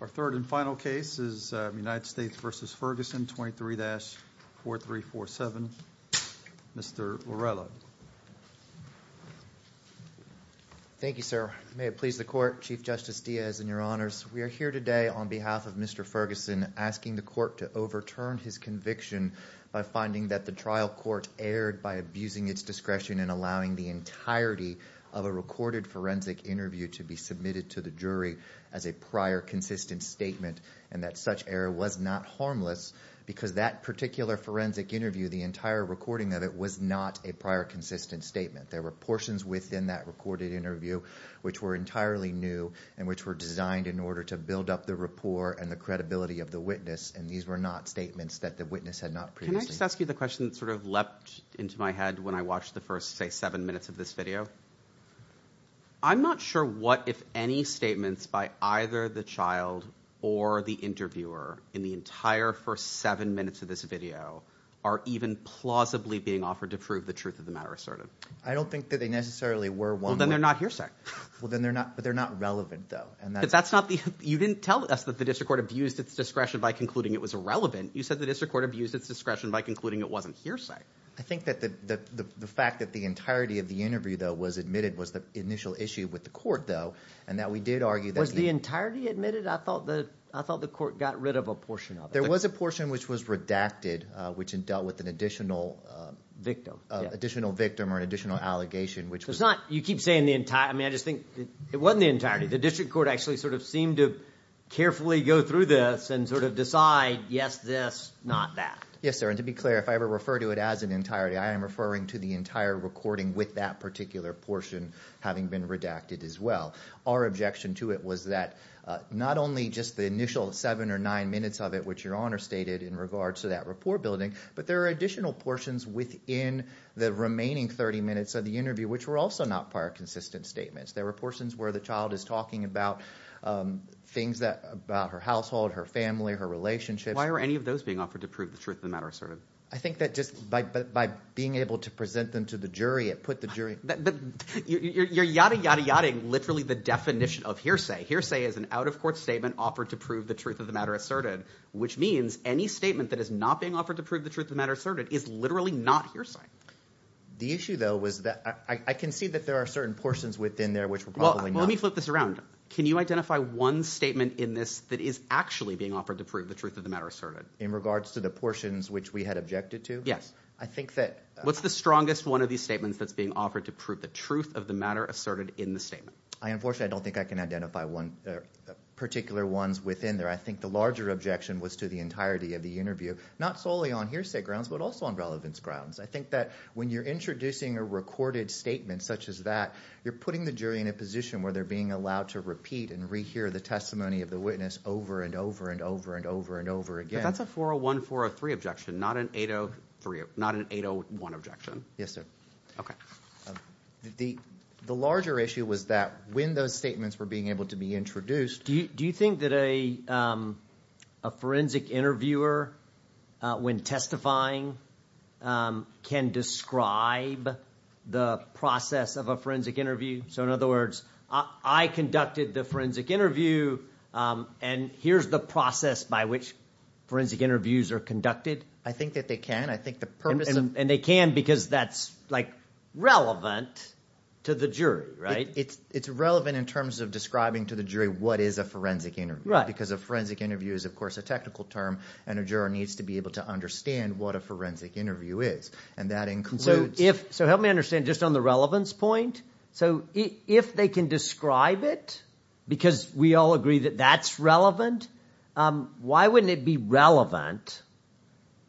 Our third and final case is United States v. Ferguson, 23-4347. Mr. Lorello. Thank you, sir. May it please the court, Chief Justice Diaz and your honors, we are here today on behalf of Mr. Ferguson asking the court to overturn his conviction by finding that the trial court erred by abusing its discretion in allowing the entirety of a recorded forensic interview to be submitted to the jury as a prior consistent statement and that such error was not harmless because that particular forensic interview, the entire recording of it, was not a prior consistent statement. There were portions within that recorded interview which were entirely new and which were designed in order to build up the rapport and the credibility of the witness and these were not statements that the witness had not previously. Can I just ask you the question that sort of leapt into my head when I watched the first, say, seven minutes of this video? I'm not sure what, if any, statements by either the child or the interviewer in the entire first seven minutes of this video are even plausibly being offered to prove the truth of the matter asserted. I don't think that they necessarily were one way. Well, then they're not hearsay. Well, then they're not relevant, though. You didn't tell us that the district court abused its discretion by concluding it was irrelevant. You said the district court abused its discretion by concluding it wasn't hearsay. I think that the fact that the entirety of the interview, though, was admitted was the initial issue with the court, though, and that we did argue that the Was the entirety admitted? I thought the court got rid of a portion of it. There was a portion which was redacted which dealt with an additional victim or an additional allegation which was It's not, you keep saying the entire, I mean, I just think it wasn't the entirety. The district court actually sort of seemed to carefully go through this and sort of decide, yes, this, not that. Yes, sir. And to be clear, if I ever refer to it as an entirety, I am referring to the entire recording with that particular portion having been redacted as well. Our objection to it was that not only just the initial seven or nine minutes of it, which your honor stated in regards to that report building, but there are additional portions within the remaining 30 minutes of the interview, which were also not prior consistent statements. There were portions where the child is talking about things that about her household, her family, her relationships. Why are any of those being offered to prove the truth of the matter asserted? I think that just by being able to present them to the jury, it put the jury. You're yadda yadda yadda, literally the definition of hearsay. Hearsay is an out of court statement offered to prove the truth of the matter asserted, which means any statement that is not being offered to prove the truth of the matter asserted is literally not hearsay. The issue though was that I can see that there are certain portions within there which were probably not. Let me flip this around. Can you identify one statement in this that is actually being offered to prove the truth of the matter asserted? In regards to the portions which we had objected to? Yes. I think that... What's the strongest one of these statements that's being offered to prove the truth of the matter asserted in the statement? I unfortunately, I don't think I can identify one particular ones within there. I think the larger objection was to the entirety of the interview, not solely on hearsay grounds, but also on relevance grounds. I think that when you're introducing a recorded statement such as that, you're putting the jury in a position where they're being allowed to repeat and rehear the testimony of the jury over and over and over again. But that's a 401, 403 objection, not an 803, not an 801 objection. Yes, sir. Okay. The larger issue was that when those statements were being able to be introduced... Do you think that a forensic interviewer, when testifying, can describe the process of a forensic interview? In other words, I conducted the forensic interview and here's the process by which forensic interviews are conducted? I think that they can. I think the purpose of... And they can because that's relevant to the jury, right? It's relevant in terms of describing to the jury what is a forensic interview because a forensic interview is, of course, a technical term and a juror needs to be able to understand what a forensic interview is. And that includes... So help me understand just on the relevance point. So if they can describe it because we all agree that that's relevant, why wouldn't it be relevant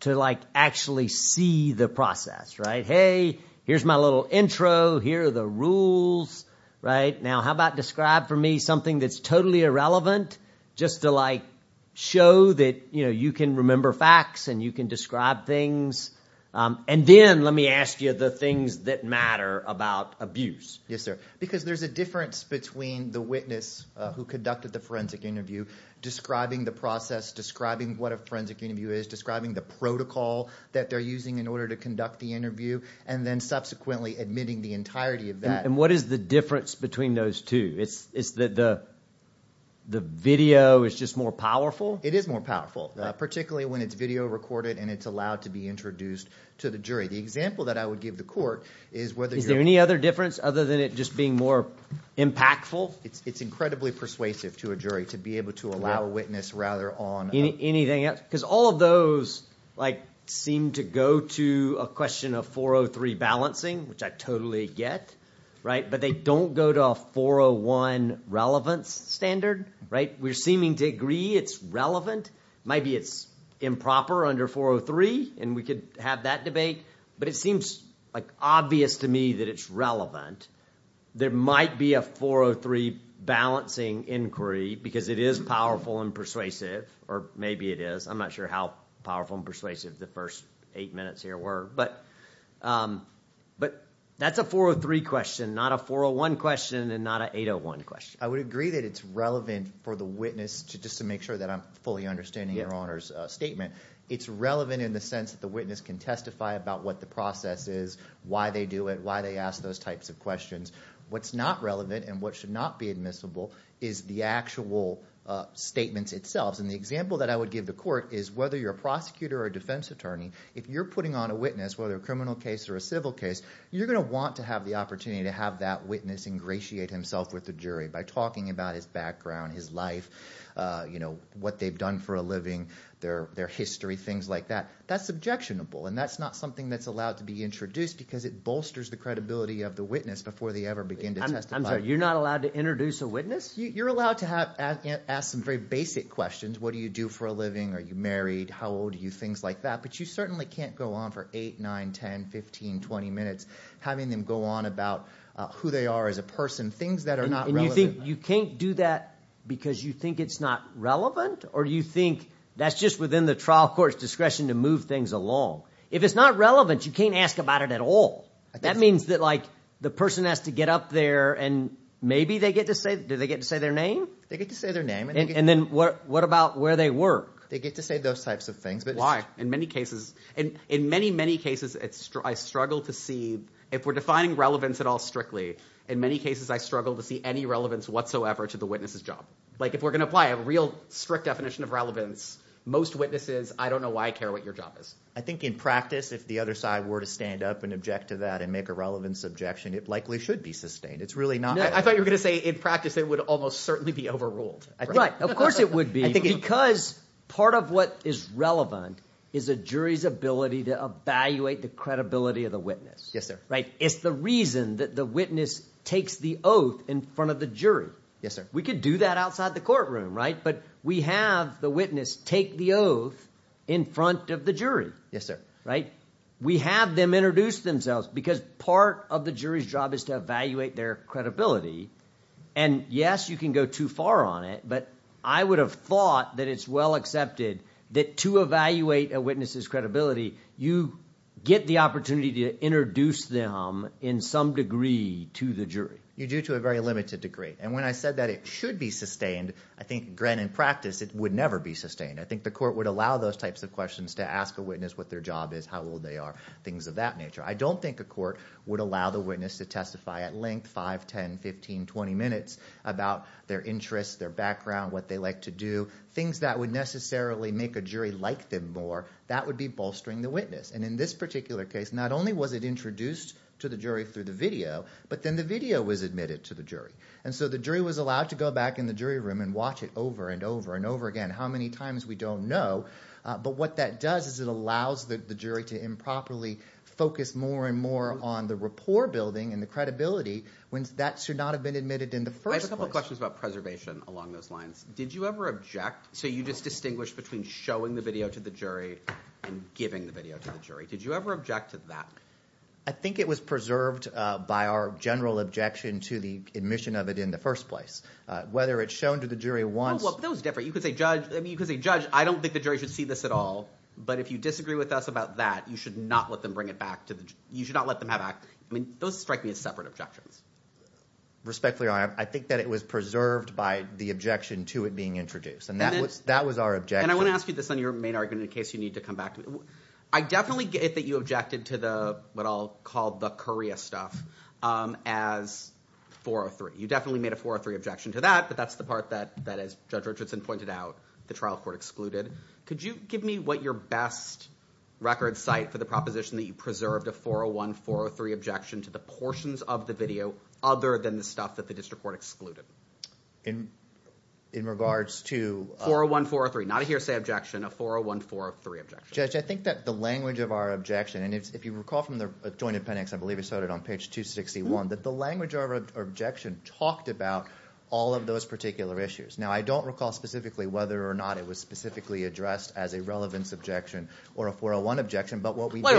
to actually see the process, right? Hey, here's my little intro, here are the rules, right? Now how about describe for me something that's totally irrelevant just to show that you can remember facts and you can describe things. And then let me ask you the things that matter about abuse. Yes, sir. Because there's a difference between the witness who conducted the forensic interview describing the process, describing what a forensic interview is, describing the protocol that they're using in order to conduct the interview, and then subsequently admitting the entirety of that. And what is the difference between those two? It's that the video is just more powerful? It is more powerful. Particularly when it's video recorded and it's allowed to be introduced to the jury. The example that I would give the court is whether you're... Is there any other difference other than it just being more impactful? It's incredibly persuasive to a jury to be able to allow a witness rather on... Anything else? Because all of those seem to go to a question of 403 balancing, which I totally get, right? But they don't go to a 401 relevance standard, right? We're seeming to agree it's relevant. Maybe it's improper under 403 and we could have that debate, but it seems obvious to me that it's relevant. There might be a 403 balancing inquiry because it is powerful and persuasive, or maybe it is. I'm not sure how powerful and persuasive the first eight minutes here were. But that's a 403 question, not a 401 question and not a 801 question. I would agree that it's relevant for the witness, just to make sure that I'm fully understanding your Honor's statement. It's relevant in the sense that the witness can testify about what the process is, why they do it, why they ask those types of questions. What's not relevant and what should not be admissible is the actual statements itself. The example that I would give the court is whether you're a prosecutor or a defense attorney, if you're putting on a witness, whether a criminal case or a civil case, you're going to want to have the opportunity to have that witness ingratiate himself with the jury by talking about his background, his life, what they've done for a living, their history, things like that. That's objectionable, and that's not something that's allowed to be introduced because it bolsters the credibility of the witness before they ever begin to testify. I'm sorry. You're not allowed to introduce a witness? You're allowed to ask some very basic questions. What do you do for a living? Are you married? How old are you? Things like that. But you certainly can't go on for eight, nine, ten, fifteen, twenty minutes having them go on about who they are as a person, things that are not relevant. You can't do that because you think it's not relevant, or you think that's just within the trial court's discretion to move things along. If it's not relevant, you can't ask about it at all. That means that the person has to get up there, and maybe they get to say, do they get to say their name? They get to say their name. And then what about where they work? They get to say those types of things. Why? In many cases, I struggle to see, if we're defining relevance at all strictly, in many cases, I don't see any relevance whatsoever to the witness's job. Like if we're going to apply a real strict definition of relevance, most witnesses, I don't know why I care what your job is. I think in practice, if the other side were to stand up and object to that and make a relevance objection, it likely should be sustained. It's really not. I thought you were going to say, in practice, it would almost certainly be overruled. Right. Of course it would be, because part of what is relevant is a jury's ability to evaluate the credibility of the witness. Yes, sir. Right? It's the reason that the witness takes the oath in front of the jury. Yes, sir. We could do that outside the courtroom, right? But we have the witness take the oath in front of the jury. Yes, sir. Right? We have them introduce themselves, because part of the jury's job is to evaluate their credibility. And, yes, you can go too far on it, but I would have thought that it's well accepted that to evaluate a witness's credibility, you get the opportunity to introduce them in some degree to the jury. You do to a very limited degree. And when I said that it should be sustained, I think, granted, in practice, it would never be sustained. I think the court would allow those types of questions to ask a witness what their job is, how old they are, things of that nature. I don't think a court would allow the witness to testify at length, 5, 10, 15, 20 minutes, about their interests, their background, what they like to do. Things that would necessarily make a jury like them more, that would be bolstering the witness. And in this particular case, not only was it introduced to the jury through the video, but then the video was admitted to the jury. And so the jury was allowed to go back in the jury room and watch it over and over and over again, how many times, we don't know. But what that does is it allows the jury to improperly focus more and more on the rapport building and the credibility when that should not have been admitted in the first place. I have a couple questions about preservation along those lines. Did you ever object? So you just distinguished between showing the video to the jury and giving the video to the jury. Did you ever object to that? I think it was preserved by our general objection to the admission of it in the first place. Whether it's shown to the jury once. Oh, well, that was different. You could say judge, I mean, you could say judge, I don't think the jury should see this at all. But if you disagree with us about that, you should not let them bring it back to the, you should not let them have that. I mean, those strike me as separate objections. Respectfully, your honor, I think that it was preserved by the objection to it being introduced. And that was our objection. And I want to ask you this on your main argument in case you need to come back to it. I definitely get that you objected to the, what I'll call the courier stuff, as 403. You definitely made a 403 objection to that, but that's the part that, as Judge Richardson pointed out, the trial court excluded. Could you give me what your best record cite for the proposition that you preserved a 401-403 objection to the portions of the video other than the stuff that the district court excluded? In regards to- 401-403. Not a hearsay objection, a 401-403 objection. Judge, I think that the language of our objection, and if you recall from the joint appendix, I believe it's on page 261, that the language of our objection talked about all of those particular issues. Now, I don't recall specifically whether or not it was specifically addressed as a relevance objection or a 401 objection, but what we did- But it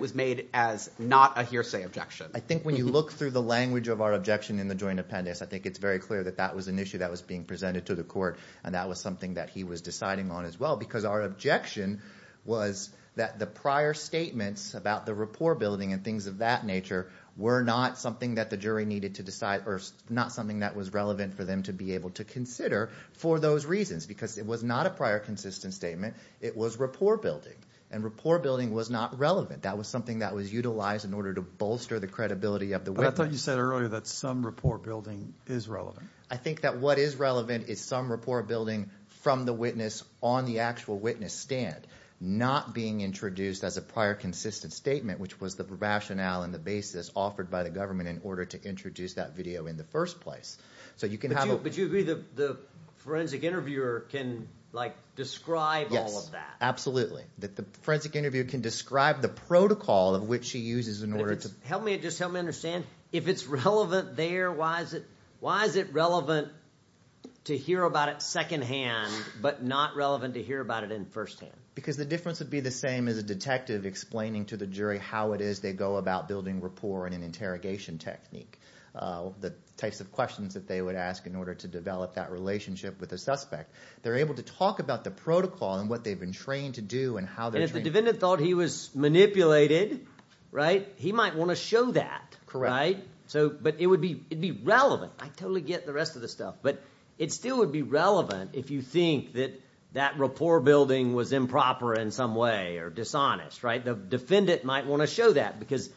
was made as not a hearsay objection. I think when you look through the language of our objection in the joint appendix, I think it's very clear that that was an issue that was being presented to the court, and that was something that he was deciding on as well, because our objection was that the prior statements about the rapport building and things of that nature were not something that the jury needed to decide, or not something that was relevant for them to be able to consider for those reasons, because it was not a prior consistent statement. It was rapport building, and rapport building was not relevant. That was something that was utilized in order to bolster the credibility of the witness. But I thought you said earlier that some rapport building is relevant. I think that what is relevant is some rapport building from the witness on the actual witness stand, not being introduced as a prior consistent statement, which was the rationale and the basis offered by the government in order to introduce that video in the first place. So you can have a- But you agree that the forensic interviewer can describe all of that? Yes, absolutely. That the forensic interviewer can describe the protocol of which she uses in order to- Help me, just help me understand. If it's relevant there, why is it relevant to hear about it secondhand, but not relevant to hear about it in firsthand? Because the difference would be the same as a detective explaining to the jury how it is they go about building rapport in an interrogation technique, the types of questions that they would ask in order to develop that relationship with a suspect. They're able to talk about the protocol and what they've been trained to do and how they're- And if the defendant thought he was manipulated, right, he might want to show that, right? But it would be relevant. I totally get the rest of the stuff. But it still would be relevant if you think that that rapport building was improper in some way or dishonest, right? The defendant might want to show that because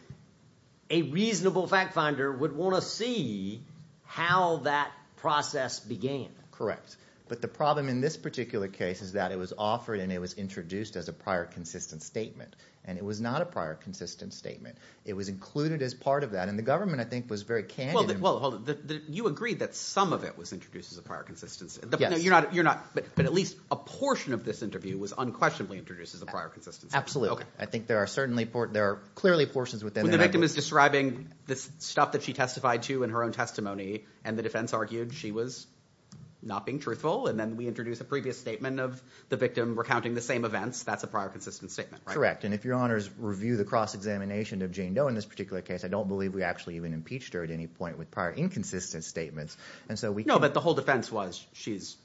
a reasonable fact finder would want to see how that process began. Correct. But the problem in this particular case is that it was offered and it was introduced as a prior consistent statement. And it was not a prior consistent statement. It was included as part of that, and the government, I think, was very candid- Well, hold on. You agreed that some of it was introduced as a prior consistency. Yes. No, you're not, but at least a portion of this interview was unquestionably introduced as a prior consistency. Absolutely. I think there are certainly, there are clearly portions within the- When the victim is describing the stuff that she testified to in her own testimony and the defense argued she was not being truthful, and then we introduce a previous statement of the victim recounting the same events, that's a prior consistent statement, right? Correct. And if your honors review the cross-examination of Jane Doe in this particular case, I don't believe we actually even impeached her at any point with prior inconsistent statements. And so we- No, but the whole defense was she's-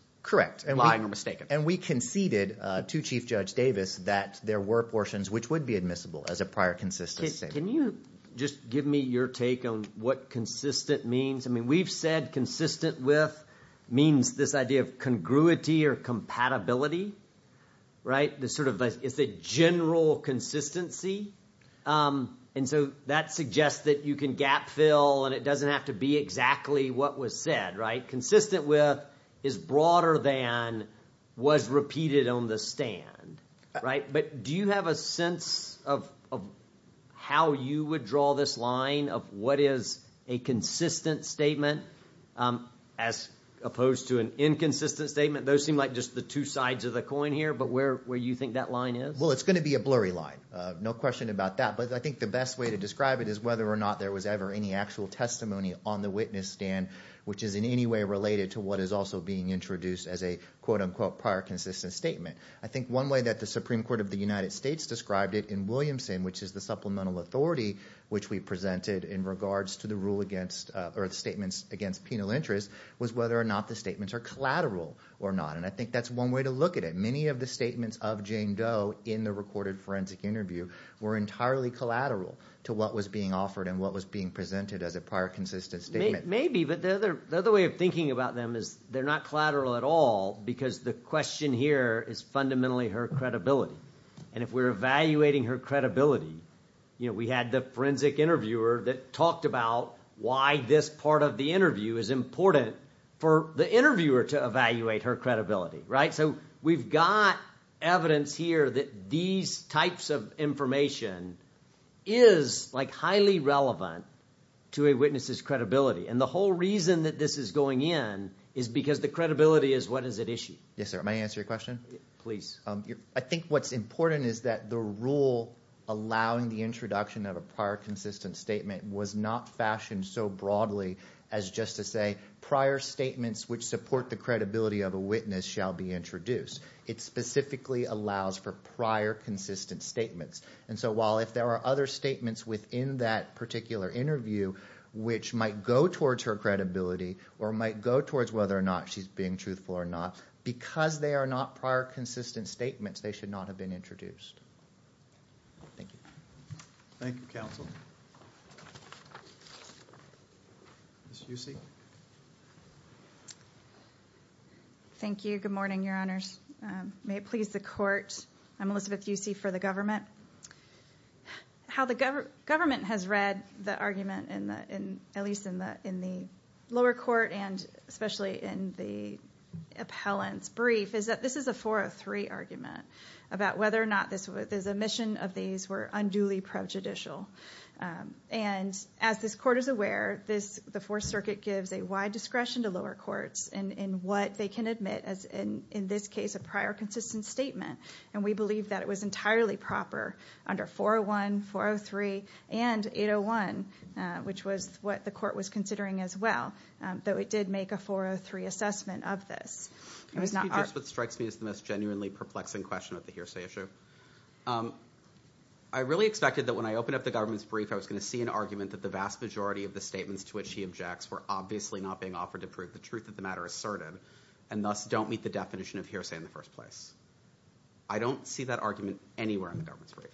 Lying or mistaken. And we conceded to Chief Judge Davis that there were portions which would be admissible as a prior consistent statement. Can you just give me your take on what consistent means? I mean, we've said consistent with means this idea of congruity or compatibility, right? The sort of, it's a general consistency. And so that suggests that you can gap fill and it doesn't have to be exactly what was said, right? Consistent with is broader than was repeated on the stand, right? But do you have a sense of how you would draw this line of what is a consistent statement as opposed to an inconsistent statement? Those seem like just the two sides of the coin here, but where you think that line is? Well, it's going to be a blurry line. No question about that. But I think the best way to describe it is whether or not there was ever any actual testimony on the witness stand, which is in any way related to what is also being introduced as a quote unquote prior consistent statement. I think one way that the Supreme Court of the United States described it in Williamson, which is the supplemental authority, which we presented in regards to the rule against or the statements against penal interest was whether or not the statements are collateral or not. And I think that's one way to look at it. Many of the statements of Jane Doe in the recorded forensic interview were entirely collateral to what was being offered and what was being presented as a prior consistent statement. Maybe, but the other way of thinking about them is they're not collateral at all because the question here is fundamentally her credibility. And if we're evaluating her credibility, you know, we had the forensic interviewer that talked about why this part of the interview is important for the interviewer to evaluate her credibility. Right. So we've got evidence here that these types of information is like highly relevant to a witness's credibility. And the whole reason that this is going in is because the credibility is what is at issue. Yes, sir. May I answer your question? Please. I think what's important is that the rule allowing the introduction of a prior consistent statement was not fashioned so broadly as just to say prior statements which support the credibility of a witness shall be introduced. It specifically allows for prior consistent statements. And so while if there are other statements within that particular interview which might go towards her credibility or might go towards whether or not she's being truthful or not, because they are not prior consistent statements, they should not have been introduced. Thank you. Thank you, counsel. Ms. Usyk. Thank you. Good morning, your honors. May it please the court. I'm Elizabeth Usyk for the government. How the government has read the argument, at least in the lower court and especially in the appellant's brief, is that this is a 403 argument about whether or not the omission of these were unduly prejudicial. And as this court is aware, the Fourth Circuit gives a wide discretion to lower courts in what they can admit as, in this case, a prior consistent statement. And we believe that it was entirely proper under 401, 403, and 801, which was what the court was considering as well, that it did make a 403 assessment of this. It was not our... Can I speak to just what strikes me as the most genuinely perplexing question of the hearsay issue? I really expected that when I opened up the government's brief, I was going to see an argument that the vast majority of the statements to which he objects were obviously not being offered to prove the truth of the matter asserted, and thus don't meet the definition of hearsay in the first place. I don't see that argument anywhere in the government's brief,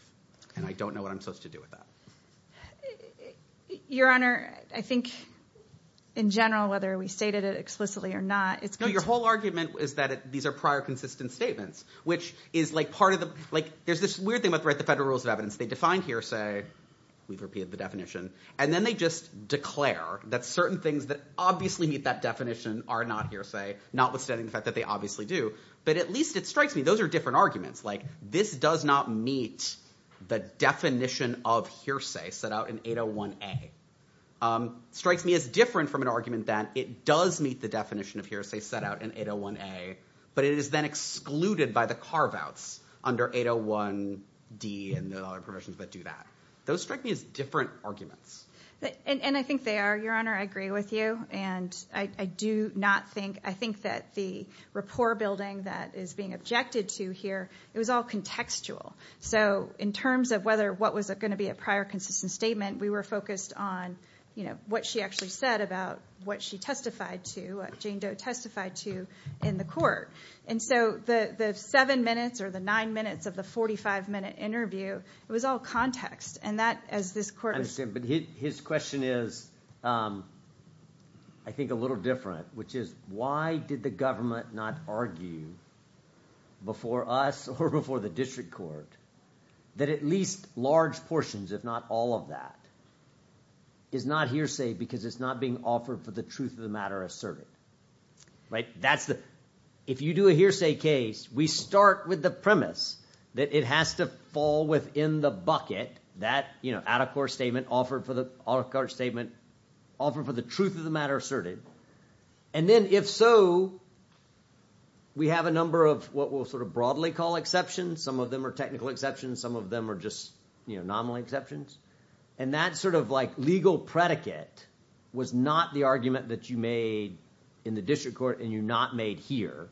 and I don't know what I'm supposed to do with that. Your Honor, I think, in general, whether we stated it explicitly or not, it's going to... No, your whole argument is that these are prior consistent statements, which is part of the... There's this weird thing about the Federal Rules of Evidence. They define hearsay, we've repeated the definition, and then they just declare that certain things that obviously meet that definition are not hearsay, notwithstanding the fact that they obviously do. But at least it strikes me those are different arguments. This does not meet the definition of hearsay set out in 801A. Strikes me as different from an argument that it does meet the definition of hearsay set out in 801A, but it is then excluded by the carve-outs under 801D and the other provisions that do that. Those strike me as different arguments. And I think they are. Your Honor, I agree with you, and I do not think... I think that the rapport building that is being objected to here, it was all contextual. So in terms of whether what was going to be a prior consistent statement, we were focused on what she actually said about what she testified to, what Jane Doe testified to, in the court. And so the seven minutes or the nine minutes of the 45-minute interview, it was all context, and that, as this court... His question is, I think, a little different, which is, why did the government not argue before us or before the district court that at least large portions, if not all of that, is not hearsay because it's not being offered for the truth of the matter asserted? If you do a hearsay case, we start with the premise that it has to fall within the bucket that out-of-court statement offered for the truth of the matter asserted. And then if so, we have a number of what we'll broadly call exceptions. Some of them are technical exceptions. Some of them are just nominal exceptions. And that legal predicate was not the argument that you made in the district court and you not made here.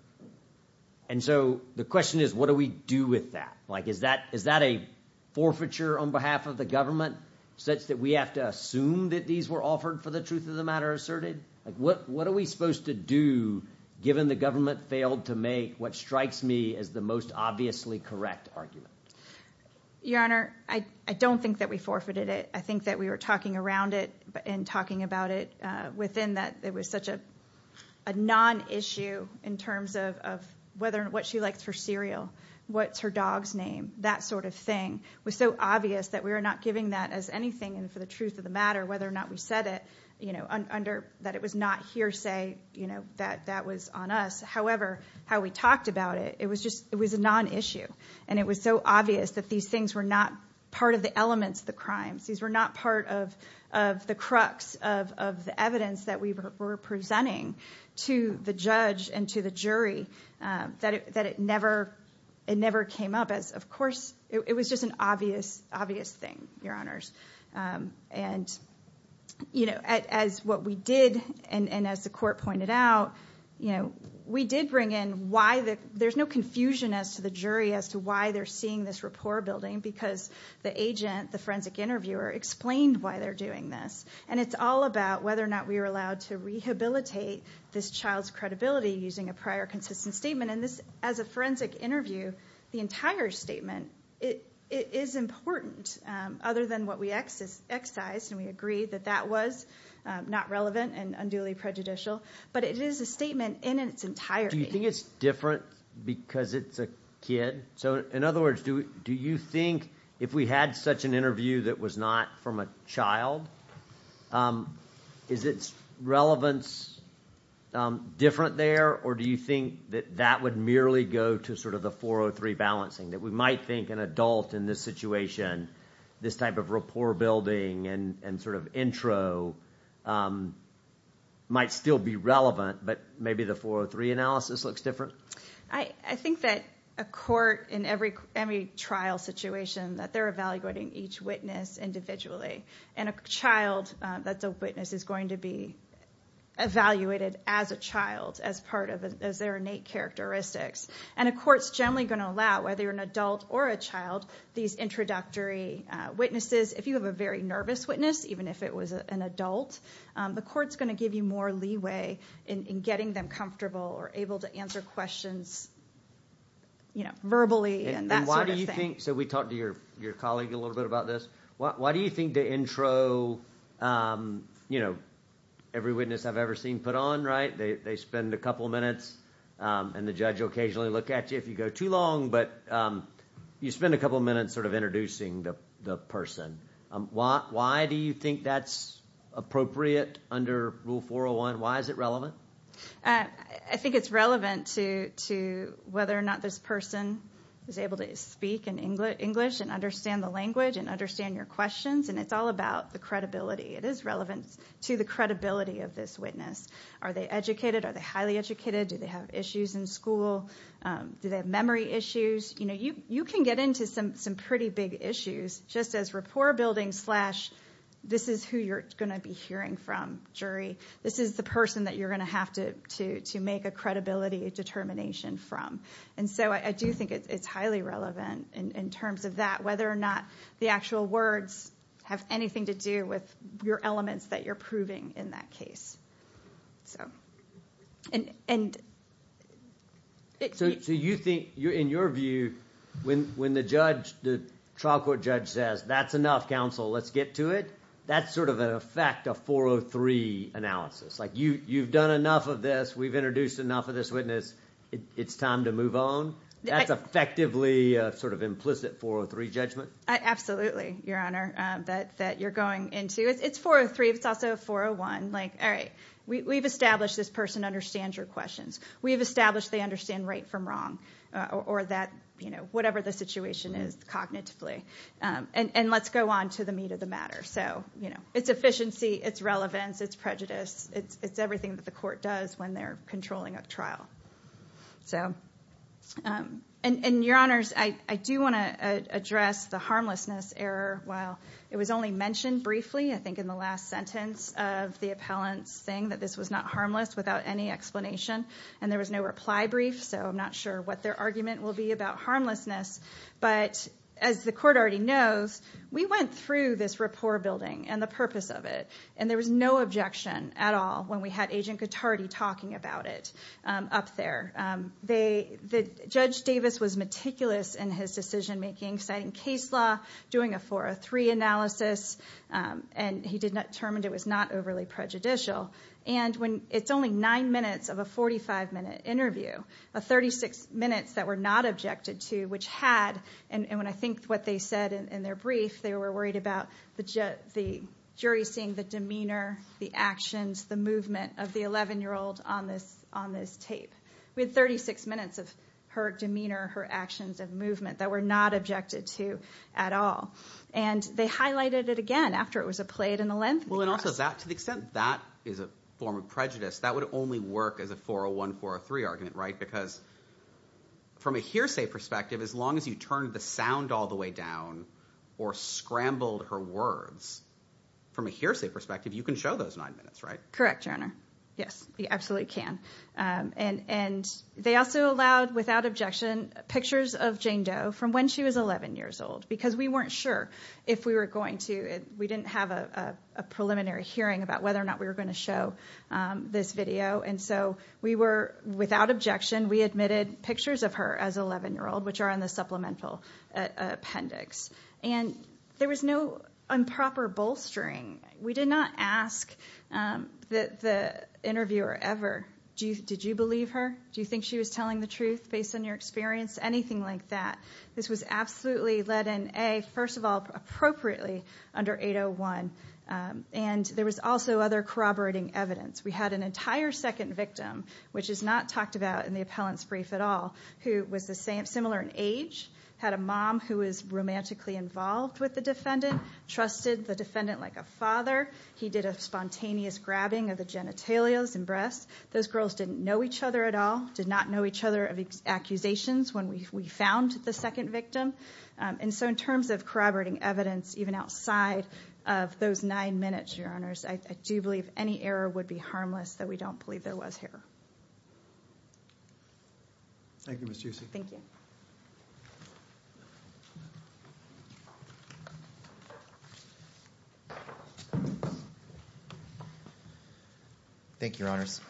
And so the question is, what do we do with that? Is that a forfeiture on behalf of the government such that we have to assume that these were offered for the truth of the matter asserted? What are we supposed to do given the government failed to make what strikes me as the most obviously correct argument? Your Honor, I don't think that we forfeited it. I think that we were talking around it and talking about it within that there was such a non-issue in terms of what she likes for cereal, what's her dog's name, that sort of thing. It was so obvious that we were not giving that as anything for the truth of the matter, whether or not we said it, that it was not hearsay, that that was on us. However, how we talked about it, it was a non-issue. And it was so obvious that these things were not part of the elements of the crimes. These were not part of the crux of the evidence that we were presenting to the judge and to the jury that it never came up as, of course, it was just an obvious thing, Your Honors. And as what we did and as the court pointed out, we did bring in why there's no confusion as to the jury as to why they're seeing this rapport building because the agent, the forensic interviewer, explained why they're doing this. And it's all about whether or not we were allowed to rehabilitate this child's credibility using a prior consistent statement. And this, as a forensic interview, the entire statement, it is important, other than what we excise and we agree that that was not relevant and unduly prejudicial, but it is a statement in its entirety. Do you think it's different because it's a kid? So in other words, do you think if we had such an interview that was not from a child, is its relevance different there, or do you think that that would merely go to sort of the 403 balancing, that we might think an adult in this situation, this type of rapport building and sort of intro might still be relevant, but maybe the 403 analysis looks different? I think that a court, in every trial situation, that they're evaluating each witness individually. And a child that's a witness is going to be evaluated as a child as part of, as their innate characteristics. And a court's generally going to allow, whether you're an adult or a child, these introductory witnesses. If you have a very nervous witness, even if it was an adult, the court's going to give you more leeway in getting them comfortable or able to answer questions verbally and that sort of thing. And why do you think, so we talked to your colleague a little bit about this, why do you think the intro, every witness I've ever seen put on, they spend a couple minutes, and the judge will occasionally look at you if you go too long, but you spend a couple minutes sort of introducing the person. Why do you think that's appropriate under Rule 401? Why is it relevant? I think it's relevant to whether or not this person is able to speak in English and understand the language and understand your questions, and it's all about the credibility. It is relevant to the credibility of this witness. Are they educated? Are they highly educated? Do they have issues in school? Do they have memory issues? You can get into some pretty big issues just as rapport building slash this is who you're going to be hearing from, jury. This is the person that you're going to have to make a credibility determination from. And so I do think it's highly relevant in terms of that, whether or not the actual words have anything to do with your elements that you're proving in that case. So you think, in your view, when the trial court judge says, that's enough, counsel, let's get to it, that's sort of an effect of 403 analysis. You've done enough of this. We've introduced enough of this witness. It's time to move on. That's effectively sort of implicit 403 judgment? Absolutely, Your Honor, that you're going into. It's 403. It's also 401. All right, we've established this person understands your questions. We've established they understand right from wrong, or whatever the situation is cognitively. And let's go on to the meat of the matter. So it's efficiency, it's relevance, it's prejudice, it's everything that the court does when they're controlling a trial. And Your Honors, I do want to address the harmlessness error while it was only mentioned briefly, I think, in the last sentence of the appellant saying that this was not harmless without any explanation. And there was no reply brief, so I'm not sure what their argument will be about harmlessness. But as the court already knows, we went through this rapport building and the purpose of it, and there was no objection at all when we had Agent Cotardi talking about it up there. Judge Davis was meticulous in his decision-making, citing case law, doing a 403 analysis, and he determined it was not overly prejudicial. And it's only nine minutes of a 45-minute interview, 36 minutes that were not objected to which had, and when I think what they said in their brief, they were worried about the jury seeing the demeanor, the actions, the movement of the 11-year-old on this tape. We had 36 minutes of her demeanor, her actions, of movement that were not objected to at all. And they highlighted it again after it was a played in the length of the case. Well, and also that, to the extent that is a form of prejudice, that would only work as a 401, 403 argument, right? Because from a hearsay perspective, as long as you turned the sound all the way down or scrambled her words, from a hearsay perspective, you can show those nine minutes, right? Correct, Your Honor. Yes, you absolutely can. And they also allowed, without objection, pictures of Jane Doe from when she was 11 years old, because we weren't sure if we were going to, we didn't have a preliminary hearing about whether or not we were going to show this video, and so we were, without objection, we admitted pictures of her as 11-year-old, which are on the supplemental appendix. And there was no improper bolstering. We did not ask the interviewer ever, did you believe her, do you think she was telling the truth based on your experience, anything like that. This was absolutely led in, A, first of all, appropriately under 801. And there was also other corroborating evidence. We had an entire second victim, which is not talked about in the appellant's brief at all, who was similar in age, had a mom who was romantically involved with the defendant, trusted the defendant like a father, he did a spontaneous grabbing of the genitalia and Those girls didn't know each other at all, did not know each other of the accusations when we found the second victim. And so in terms of corroborating evidence, even outside of those nine minutes, Your Honors, I do believe any error would be harmless that we don't believe there was here. Thank you, Ms. Giussi. Thank you. Thank you, Your Honors.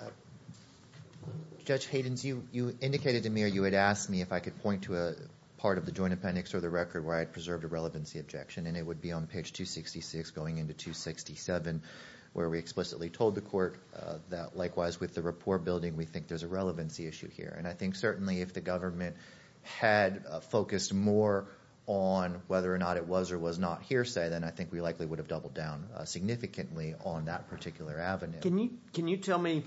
Judge Haydens, you indicated to me or you had asked me if I could point to a part of the joint appendix or the record where I had preserved a relevancy objection, and it would be on page 266 going into 267 where we explicitly told the court that likewise with the rapport building we think there's a relevancy issue here. And I think certainly if the government had focused more on whether or not it was or was not hearsay, then I think we likely would have doubled down significantly on that particular avenue. Can you tell me,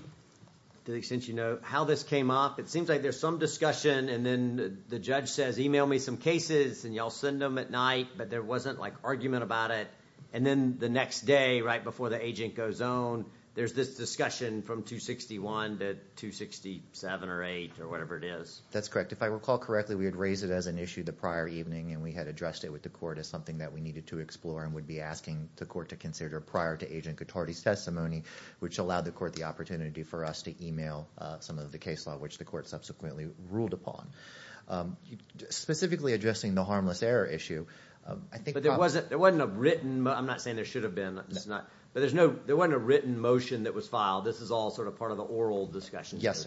to the extent you know, how this came up? It seems like there's some discussion and then the judge says, email me some cases and y'all send them at night, but there wasn't like argument about it. And then the next day, right before the agent goes on, there's this discussion from 261 to 267 or 8 or whatever it is. That's correct. If I recall correctly, we had raised it as an issue the prior evening and we had addressed it with the court as something that we needed to explore and would be asking the court to consider prior to Agent Cotardi's testimony, which allowed the court the opportunity for us to email some of the case law, which the court subsequently ruled upon. Specifically addressing the harmless error issue, I think there wasn't a written, I'm not saying there should have been, but there wasn't a written motion that was filed. This is all sort of part of the oral discussion. Yes,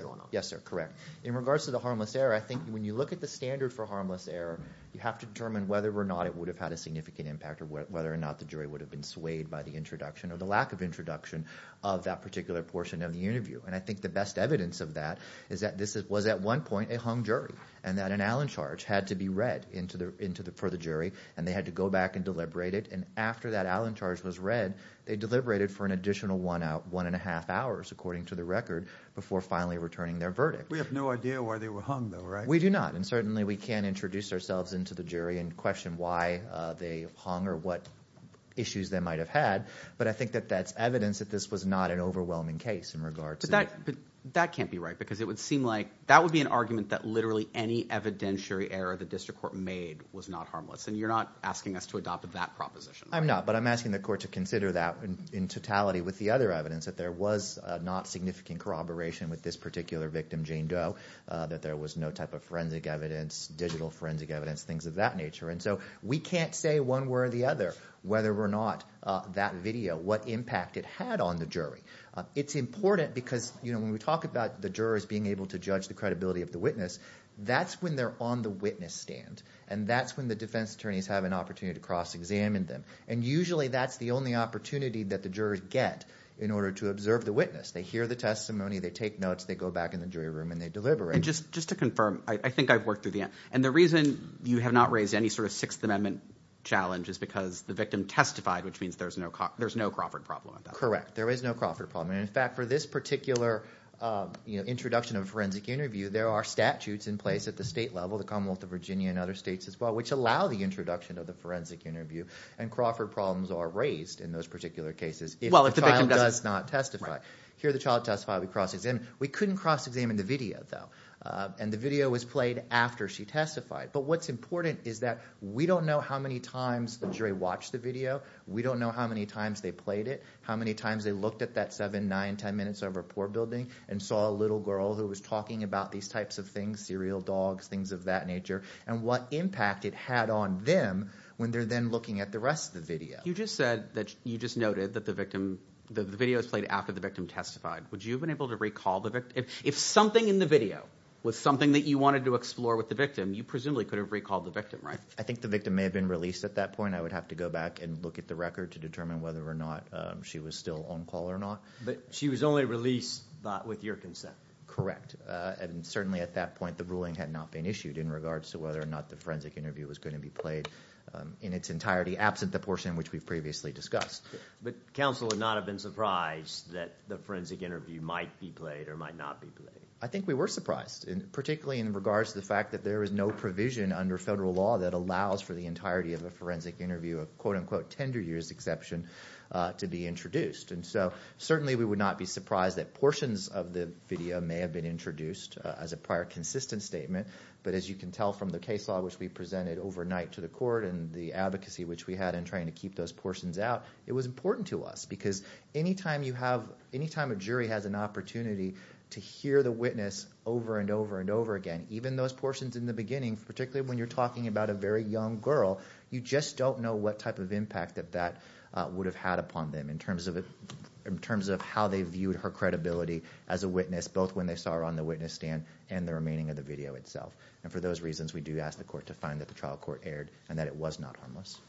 sir. Correct. In regards to the harmless error, I think when you look at the standard for harmless error, you have to determine whether or not it would have had a significant impact or whether or not the jury would have been swayed by the introduction or the lack of introduction of that particular portion of the interview. And I think the best evidence of that is that this was at one point a hung jury and that an Allen charge had to be read for the jury and they had to go back and deliberate it. And after that Allen charge was read, they deliberated for an additional one and a half hours, according to the record, before finally returning their verdict. We have no idea why they were hung though, right? We do not. And certainly we can introduce ourselves into the jury and question why they hung or what issues they might've had. But I think that that's evidence that this was not an overwhelming case in regards to that. But that can't be right because it would seem like that would be an argument that literally any evidentiary error the district court made was not harmless. And you're not asking us to adopt that proposition. I'm not, but I'm asking the court to consider that in totality with the other evidence that there was not significant corroboration with this particular victim, Jane Doe, that there was no type of forensic evidence, digital forensic evidence, things of that nature. And so we can't say one way or the other, whether or not that video, what impact it had on the jury. It's important because when we talk about the jurors being able to judge the credibility of the witness, that's when they're on the witness stand. And that's when the defense attorneys have an opportunity to cross-examine them. And usually that's the only opportunity that the jurors get in order to observe the witness. They hear the testimony, they take notes, they go back in the jury room and they deliberate. And just to confirm, I think I've worked through the end. And the reason you have not raised any sort of Sixth Amendment challenge is because the victim testified, which means there's no Crawford problem. Correct. There is no Crawford problem. And in fact, for this particular introduction of a forensic interview, there are statutes in place at the state level, the Commonwealth of Virginia and other states as well, which allow the introduction of the forensic interview. And Crawford problems are raised in those particular cases if the child does not testify. Here the child testifies, we cross-examine. We couldn't cross-examine the video though. And the video was played after she testified. But what's important is that we don't know how many times the jury watched the video. We don't know how many times they played it, how many times they looked at that seven, nine, ten minutes of report building and saw a little girl who was talking about these types of things, serial dogs, things of that nature, and what impact it had on them when they're then looking at the rest of the video. You just said that you just noted that the victim, the video was played after the victim testified. Would you have been able to recall the victim? If something in the video was something that you wanted to explore with the victim, you presumably could have recalled the victim, right? I think the victim may have been released at that point. I would have to go back and look at the record to determine whether or not she was still on call or not. But she was only released with your consent. Correct. And certainly at that point, the ruling had not been issued in regards to whether or not the forensic interview was going to be played in its entirety, absent the portion which we've previously discussed. But counsel would not have been surprised that the forensic interview might be played or might not be played? I think we were surprised, particularly in regards to the fact that there is no provision under federal law that allows for the entirety of a forensic interview, a quote-unquote tender year's exception, to be introduced. And so certainly we would not be surprised that portions of the video may have been introduced as a prior consistent statement, but as you can tell from the case law which we presented overnight to the court and the advocacy which we had in trying to keep those portions out, it was important to us because any time a jury has an opportunity to hear the witness over and over and over again, even those portions in the beginning, particularly when you're talking about a very young girl, you just don't know what type of impact that that would have had upon them in terms of how they viewed her credibility as a witness, both when they saw her on the witness stand and the remaining of the video itself. And for those reasons, we do ask the court to find that the trial court erred and that it was not harmless.